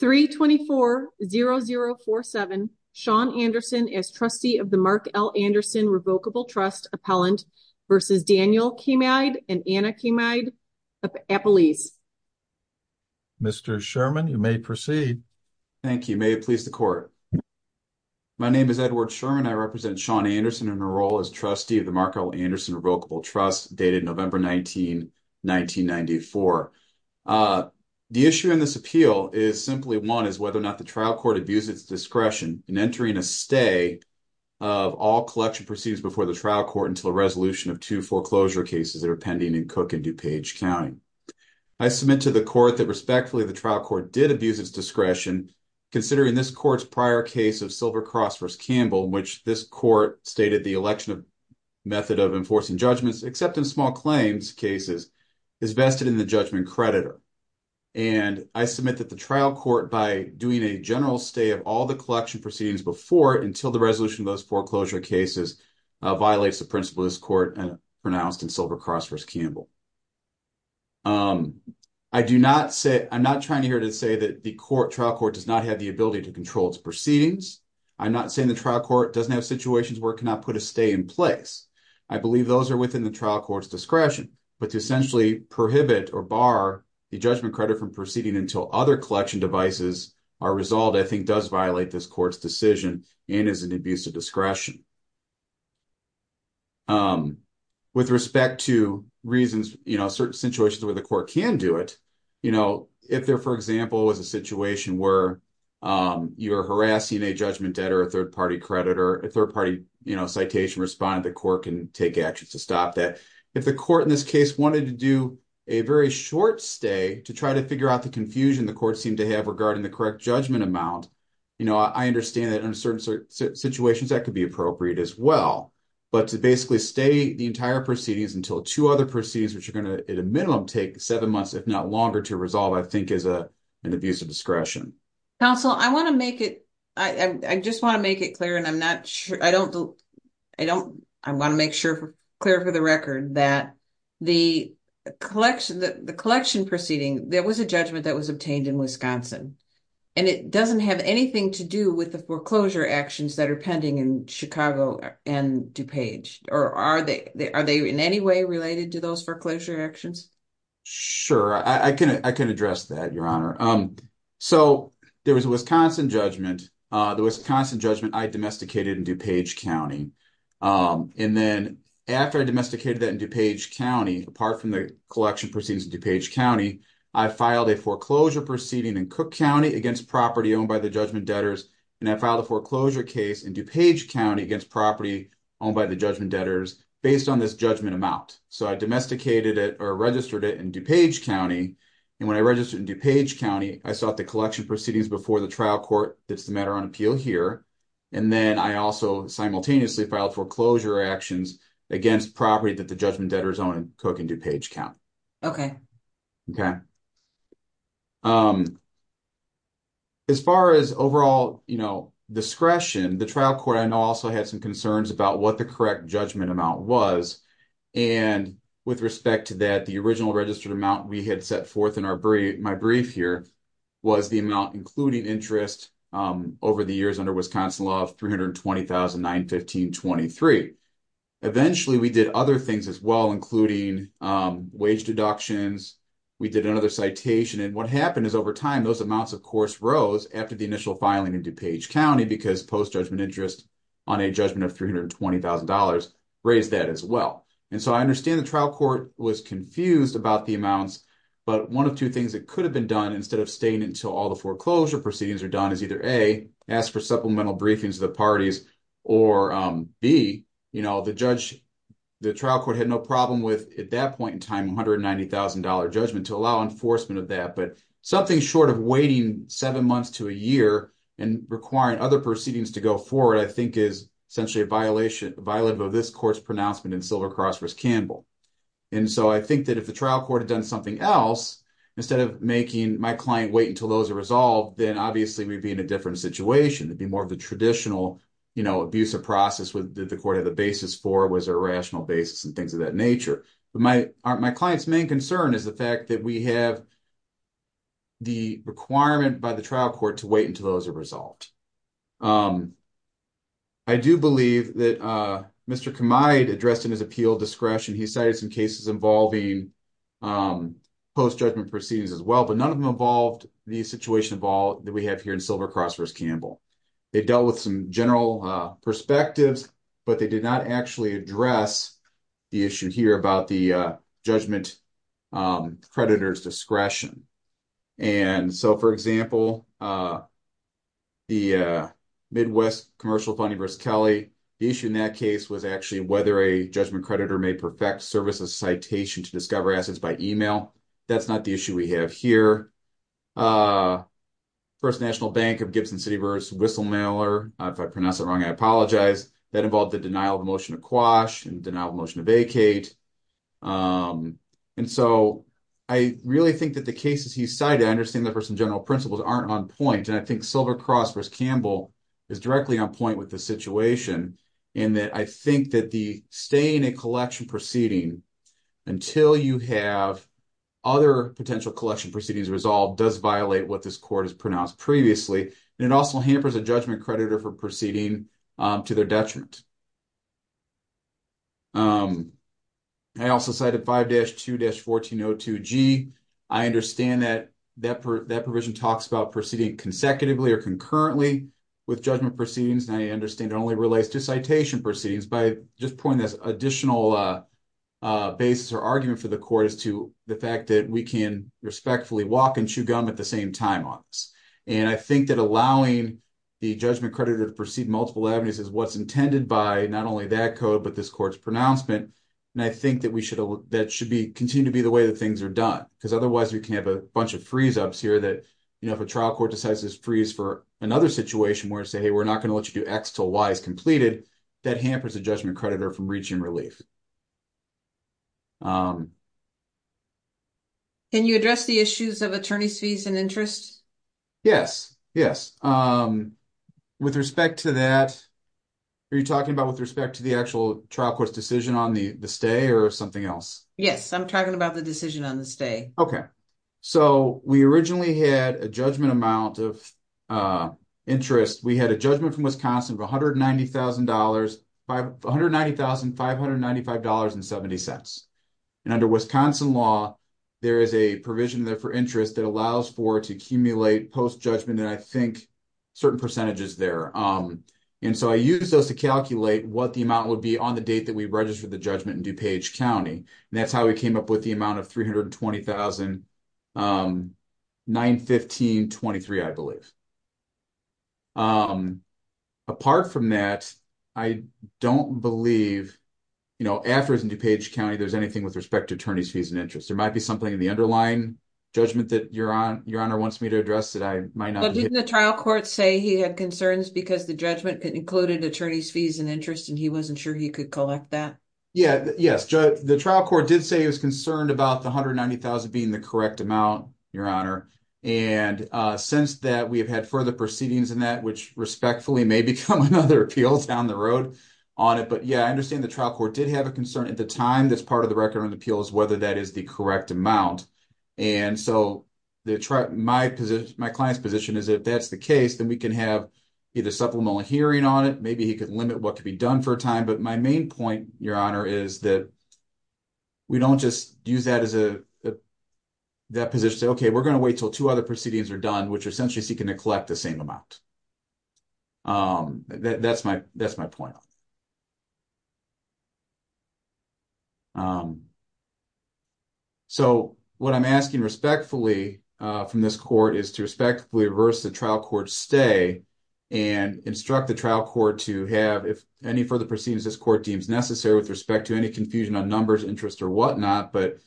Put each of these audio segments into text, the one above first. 324-0047 Sean Anderson as trustee of the Mark L. Anderson Revocable Trust Appellant versus Daniel Kamide and Anna Kamide Appellees. Mr. Sherman, you may proceed. Thank you. May it please the court. My name is Edward Sherman. I represent Sean Anderson in a role as trustee of the Mark L. Anderson Revocable Trust dated November 19, 1994. The issue in this appeal is simply one is whether or not the trial court abused its discretion in entering a stay of all collection proceedings before the trial court until a resolution of two foreclosure cases that are pending in Cook and DuPage County. I submit to the court that respectfully the trial court did abuse its discretion considering this court's prior case of Silver Cross v. Campbell in which this court stated the election of method of enforcing judgments except in small claims cases is vested in the judgment creditor. And I submit that the trial court by doing a general stay of all the collection proceedings before until the resolution of those foreclosure cases violates the principle this court pronounced in Silver Cross v. Campbell. I do not say I'm not trying here to say that the court trial court does not have the ability to situations where it cannot put a stay in place. I believe those are within the trial court's discretion. But to essentially prohibit or bar the judgment credit from proceeding until other collection devices are resolved I think does violate this court's decision and is an abuse of discretion. With respect to reasons, you know, certain situations where the court can do it, you know, if there, for example, was a situation where you're harassing a judgment debtor, third-party creditor, a third-party, you know, citation respondent, the court can take actions to stop that. If the court in this case wanted to do a very short stay to try to figure out the confusion the court seemed to have regarding the correct judgment amount, you know, I understand that in certain situations that could be appropriate as well. But to basically stay the entire proceedings until two other proceedings which are going to at a minimum take seven months if not longer to resolve I think is an abuse of discretion. Counsel, I want to make it, I just want to make it clear and I'm not sure, I don't, I don't, I want to make sure clear for the record that the collection, the collection proceeding, there was a judgment that was obtained in Wisconsin and it doesn't have anything to do with the foreclosure actions that are pending in Chicago and DuPage. Or are they, are they in any way related to those foreclosure actions? Sure, I can, I can address that, Your Honor. So there was a Wisconsin judgment, the Wisconsin judgment I domesticated in DuPage County. And then after I domesticated that in DuPage County, apart from the collection proceedings in DuPage County, I filed a foreclosure proceeding in Cook County against property owned by the judgment debtors and I filed a foreclosure case in DuPage County against property owned by the judgment debtors based on this judgment amount. So I registered it in DuPage County and when I registered in DuPage County, I sought the collection proceedings before the trial court. That's the matter on appeal here. And then I also simultaneously filed foreclosure actions against property that the judgment debtors own in Cook and DuPage County. Okay. Okay. As far as overall, you know, discretion, the trial court I know also had some concerns about what the correct judgment amount was. And with respect to that, the original registered amount we had set forth in our brief, my brief here, was the amount including interest over the years under Wisconsin law of $320,915.23. Eventually we did other things as well, including wage deductions. We did another citation. And what happened is over time, those amounts of course rose after the initial filing in DuPage County because post-judgment interest on a judgment of $320,000 raised that as well. And so I understand the trial court was confused about the amounts, but one of two things that could have been done instead of staying until all the foreclosure proceedings are done is either A, ask for supplemental briefings of the parties, or B, you know, the judge, the trial court had no problem with at that point in time $190,000 judgment to allow enforcement of that. But something short of waiting seven months to a year and requiring other proceedings to go forward, I think is essentially a violation of this court's pronouncement in Silver Cross v. Campbell. And so I think that if the trial court had done something else, instead of making my client wait until those are resolved, then obviously we'd be in a different situation. It'd be more of the traditional, you know, abusive process that the court had the basis for was a rational basis and things of that nature. But my client's main concern is the fact that we have the requirement by the trial court to wait until those are resolved. I do believe that Mr. Kamide addressed in his appeal discretion, he cited some cases involving post-judgment proceedings as well, but none of them involved the situation that we have here in Silver Cross v. Campbell. They dealt with some general perspectives, but they did not actually address the issue here about the judgment creditor's discretion. And so, for example, the Midwest Commercial Fund v. Kelly, the issue in that case was actually whether a judgment creditor may perfect services citation to discover assets by email. That's not the issue we have here. First National Bank of Gibson City v. Whistlemailer, if I pronounce it wrong, I apologize, that involved the denial of motion to quash and denial of motion to vacate. And so, I really think that the cases he cited, I understand that for some general principles, aren't on point. And I think Silver Cross v. Campbell is directly on point with the situation in that I think that the staying in collection proceeding until you have other potential collection proceedings resolved does violate what this court has pronounced previously. And it also hampers a judgment creditor for proceeding to their detriment. I also cited 5-2-1402G. I understand that that provision talks about proceeding consecutively or concurrently with judgment proceedings. And I understand it only relates to citation proceedings by just pointing this additional basis or argument for the court as to the fact that we can respectfully walk and chew gum at the same time on this. And I think that allowing the judgment creditor to proceed multiple avenues is what's intended by not only that code, but this court's pronouncement. And I think that should continue to be the way that things are done. Because otherwise, we can have a bunch of freeze-ups here that, you know, if a trial court decides to freeze for another situation where it says, hey, we're not going to let you do X until Y is completed, that hampers the judgment creditor from reaching relief. Can you address the issues of attorney's fees and interest? Yes. Yes. With respect to that, are you talking about with respect to the actual trial court's decision on the stay or something else? Yes, I'm talking about the decision on the stay. Okay. So, we originally had a judgment amount of interest. We had a judgment from Wisconsin of $190,595.70. And under Wisconsin law, there is a provision there for interest that allows for to accumulate post-judgment, and I think certain percentages there. And so, I used those to calculate what the amount would be on the date that we registered the judgment in DuPage County. And that's how we came up with the amount of $320,915.23, I believe. Apart from that, I don't believe, you know, after it's in DuPage County, there's anything with respect to attorney's fees and interest. There might be something in the underlying judgment that Your Honor wants me to address that I might not be able to. But didn't the trial court say he had concerns because the judgment included attorney's fees and interest, and he wasn't sure he could collect that? Yeah. Yes. The trial court did say he was concerned about the $190,000 being the correct amount, Your Honor. And since that, we have had further proceedings in that, which respectfully may become another appeal down the road on it. But yeah, I understand the trial court did have a concern at the time that's part of the record on the appeal is whether that is the correct amount. And so, my client's position is if that's the case, then we can have either supplemental hearing on it. Maybe he could limit what could be done for a time. But my main point, Your Honor, is that we don't just use that position to say, okay, we're going to wait until two other proceedings are done, which are essentially seeking to collect the same amount. That's my point. So, what I'm asking respectfully from this court is to respectfully reverse the trial court's stay and instruct the trial court to have, if any further proceedings this court deems necessary with respect to any confusion on numbers, interest, or whatnot, but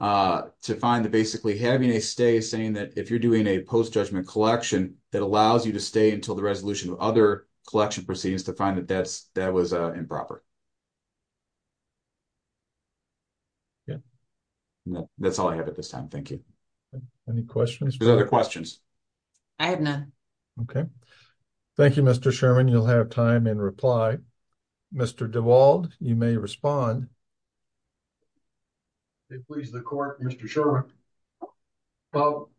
to find that basically having a stay saying that if you're doing a post-judgment collection, that allows you to stay until the resolution of other collection proceedings to find that that was improper. Yeah. That's all I have at this time. Thank you. Any questions? Are there other questions? I have none. Okay. Thank you, Mr. Sherman. You'll have time in reply. Mr. DeWald, you may respond. If it pleases the court, Mr. Sherman. Well,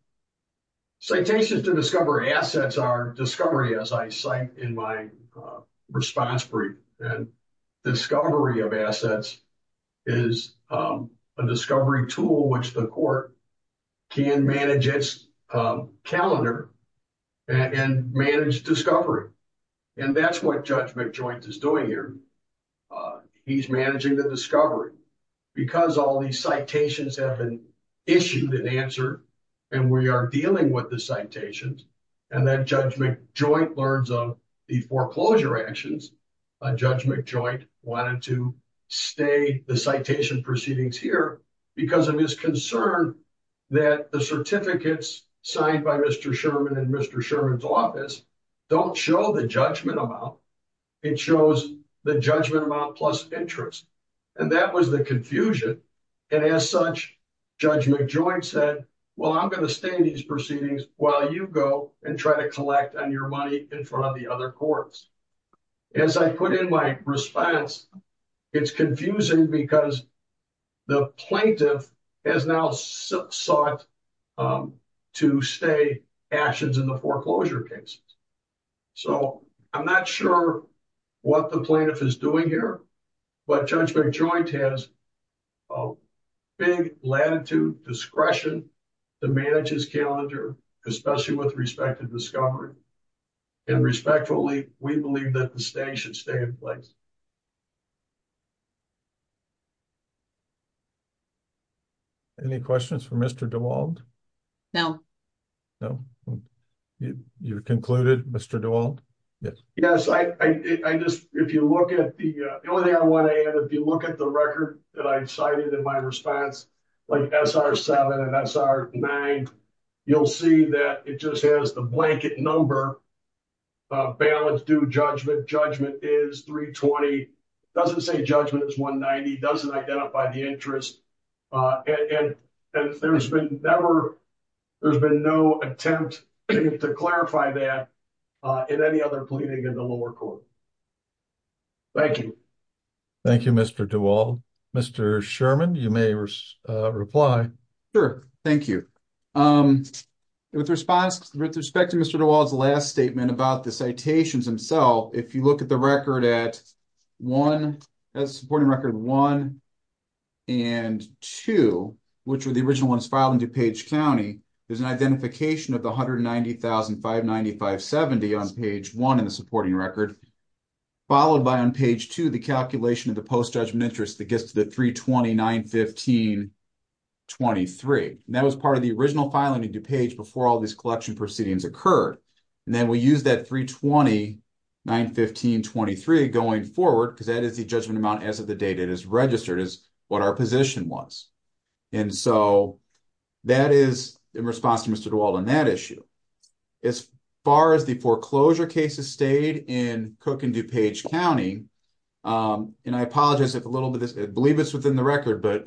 citations to discovery assets are discovery, as I cite in my response brief. And discovery of managed discovery. And that's what Judge McJoint is doing here. He's managing the discovery. Because all these citations have been issued and answered, and we are dealing with the citations, and then Judge McJoint learns of the foreclosure actions, Judge McJoint wanted to stay the citation proceedings here because of his concern that the certificates signed by Mr. Sherman and Mr. Sherman's office don't show the judgment amount. It shows the judgment amount plus interest. And that was the confusion. And as such, Judge McJoint said, well, I'm going to stay in these proceedings while you go and try to collect on your money in front of the other courts. As I put in my response, it's confusing because the plaintiff has now sought to stay actions in the foreclosure cases. So I'm not sure what the plaintiff is doing here, but Judge McJoint has big latitude, discretion to manage his calendar, especially with respect to discovery. And respectfully, we believe that the stay should place. Any questions for Mr. DeWald? No. You're concluded, Mr. DeWald? Yes. Yes. I just, if you look at the, the only thing I want to add, if you look at the record that I cited in my response, like SR7 and SR9, you'll see that it just has the blanket number, balance due judgment. Judgment is 320. It doesn't say judgment is 190. It doesn't identify the interest. And there's been never, there's been no attempt to clarify that in any other pleading in the lower court. Thank you. Thank you, Mr. DeWald. Mr. Sherman, you may reply. Sure. Thank you. With respect to Mr. DeWald's last statement about the citations himself, if you look at the record at one, as supporting record one and two, which were the original ones filed in DuPage County, there's an identification of the $190,595.70 on page one in the supporting record, followed by on page two, the calculation of the post-judgment interest that gets to the $320,915.23. And that was part of the original filing in DuPage before all these collection proceedings occurred. And then we use that $320,915.23 going forward, because that is the judgment amount as of the date it is registered, is what our position was. And so that is in response to Mr. DeWald on that issue. As far as the foreclosure cases stayed in Cook and DuPage County, and I apologize, I believe it's within the record, but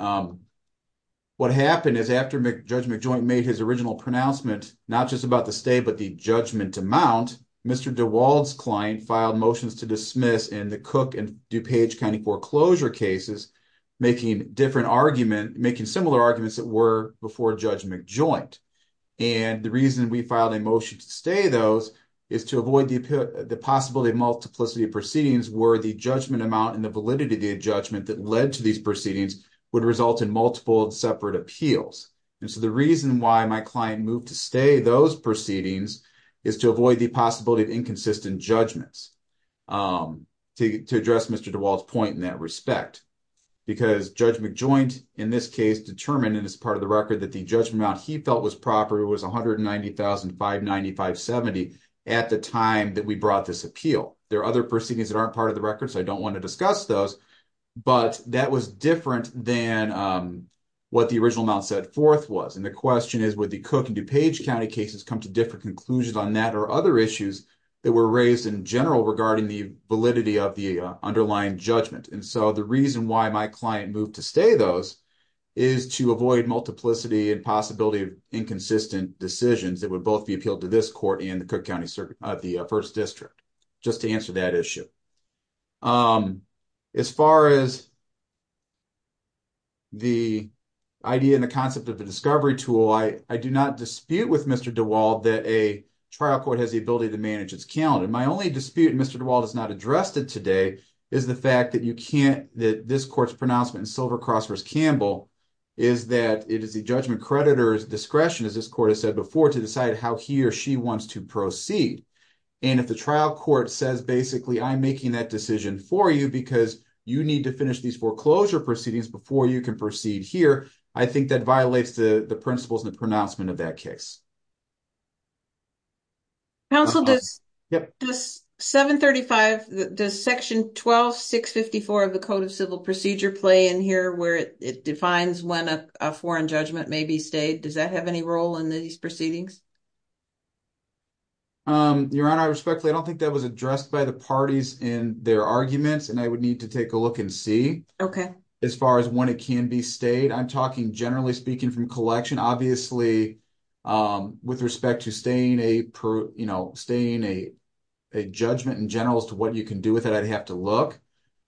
what happened is after Judge McJoint made his original pronouncement, not just about the stay, but the judgment amount, Mr. DeWald's client filed motions to dismiss in the Cook and DuPage County foreclosure cases, making different arguments, making similar arguments that were before Judge McJoint. And the reason we filed a motion to stay those is to avoid the possibility of multiplicity proceedings where the judgment amount and the validity of the judgment that led to these proceedings would result in multiple separate appeals. And so the reason why my client moved to stay those proceedings is to avoid the possibility of inconsistent judgments, to address Mr. DeWald's point in that respect. Because Judge McJoint in this case determined, and it's part of the record, that the judgment amount he felt was proper was $190,595.70 at the time that we brought this appeal. There are other proceedings that aren't part of the record, so I don't want to discuss those, but that was different than what the original amount set forth was. And the question is, would the Cook and DuPage County cases come to different conclusions on that or other issues that were raised in general regarding the validity of the underlying judgment? And so the reason why my client moved to stay those is to avoid multiplicity and inconsistent decisions that would both be appealed to this court and the Cook County First District, just to answer that issue. As far as the idea and the concept of a discovery tool, I do not dispute with Mr. DeWald that a trial court has the ability to manage its calendar. My only dispute, and Mr. DeWald has not addressed it today, is the fact that this court's pronouncement Silver Cross vs. Campbell is that it is the judgment creditor's discretion, as this court has said before, to decide how he or she wants to proceed. And if the trial court says, basically, I'm making that decision for you because you need to finish these foreclosure proceedings before you can proceed here, I think that violates the principles and the pronouncement of that case. Counsel, does Section 12654 of the Code of Civil Procedure play in here where it defines when a foreign judgment may be stayed? Does that have any role in these proceedings? Your Honor, respectfully, I don't think that was addressed by the parties in their arguments, and I would need to take a look and see as far as when it can be stayed. I'm talking, generally speaking, from collection. Obviously, with respect to staying a judgment in general as to what you can do with it, I'd have to look.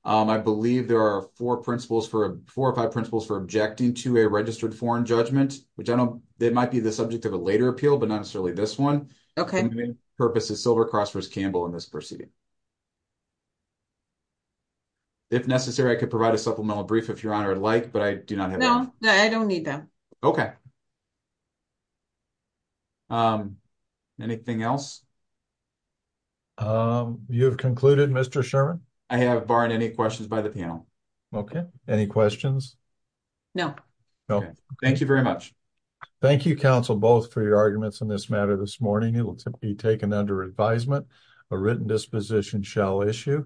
I believe there are four or five principles for objecting to a registered foreign judgment, which might be the subject of a later appeal, but not necessarily this one. The main purpose is Silver Cross vs. Campbell in this proceeding. If necessary, I could provide a supplemental brief, if Your Honor would like, but I do not need that. Okay. Anything else? You have concluded, Mr. Sherman? I have, barring any questions by the panel. Okay. Any questions? No. Thank you very much. Thank you, Counsel, both, for your arguments on this matter this morning. It will be taken under advisement. A written disposition shall issue.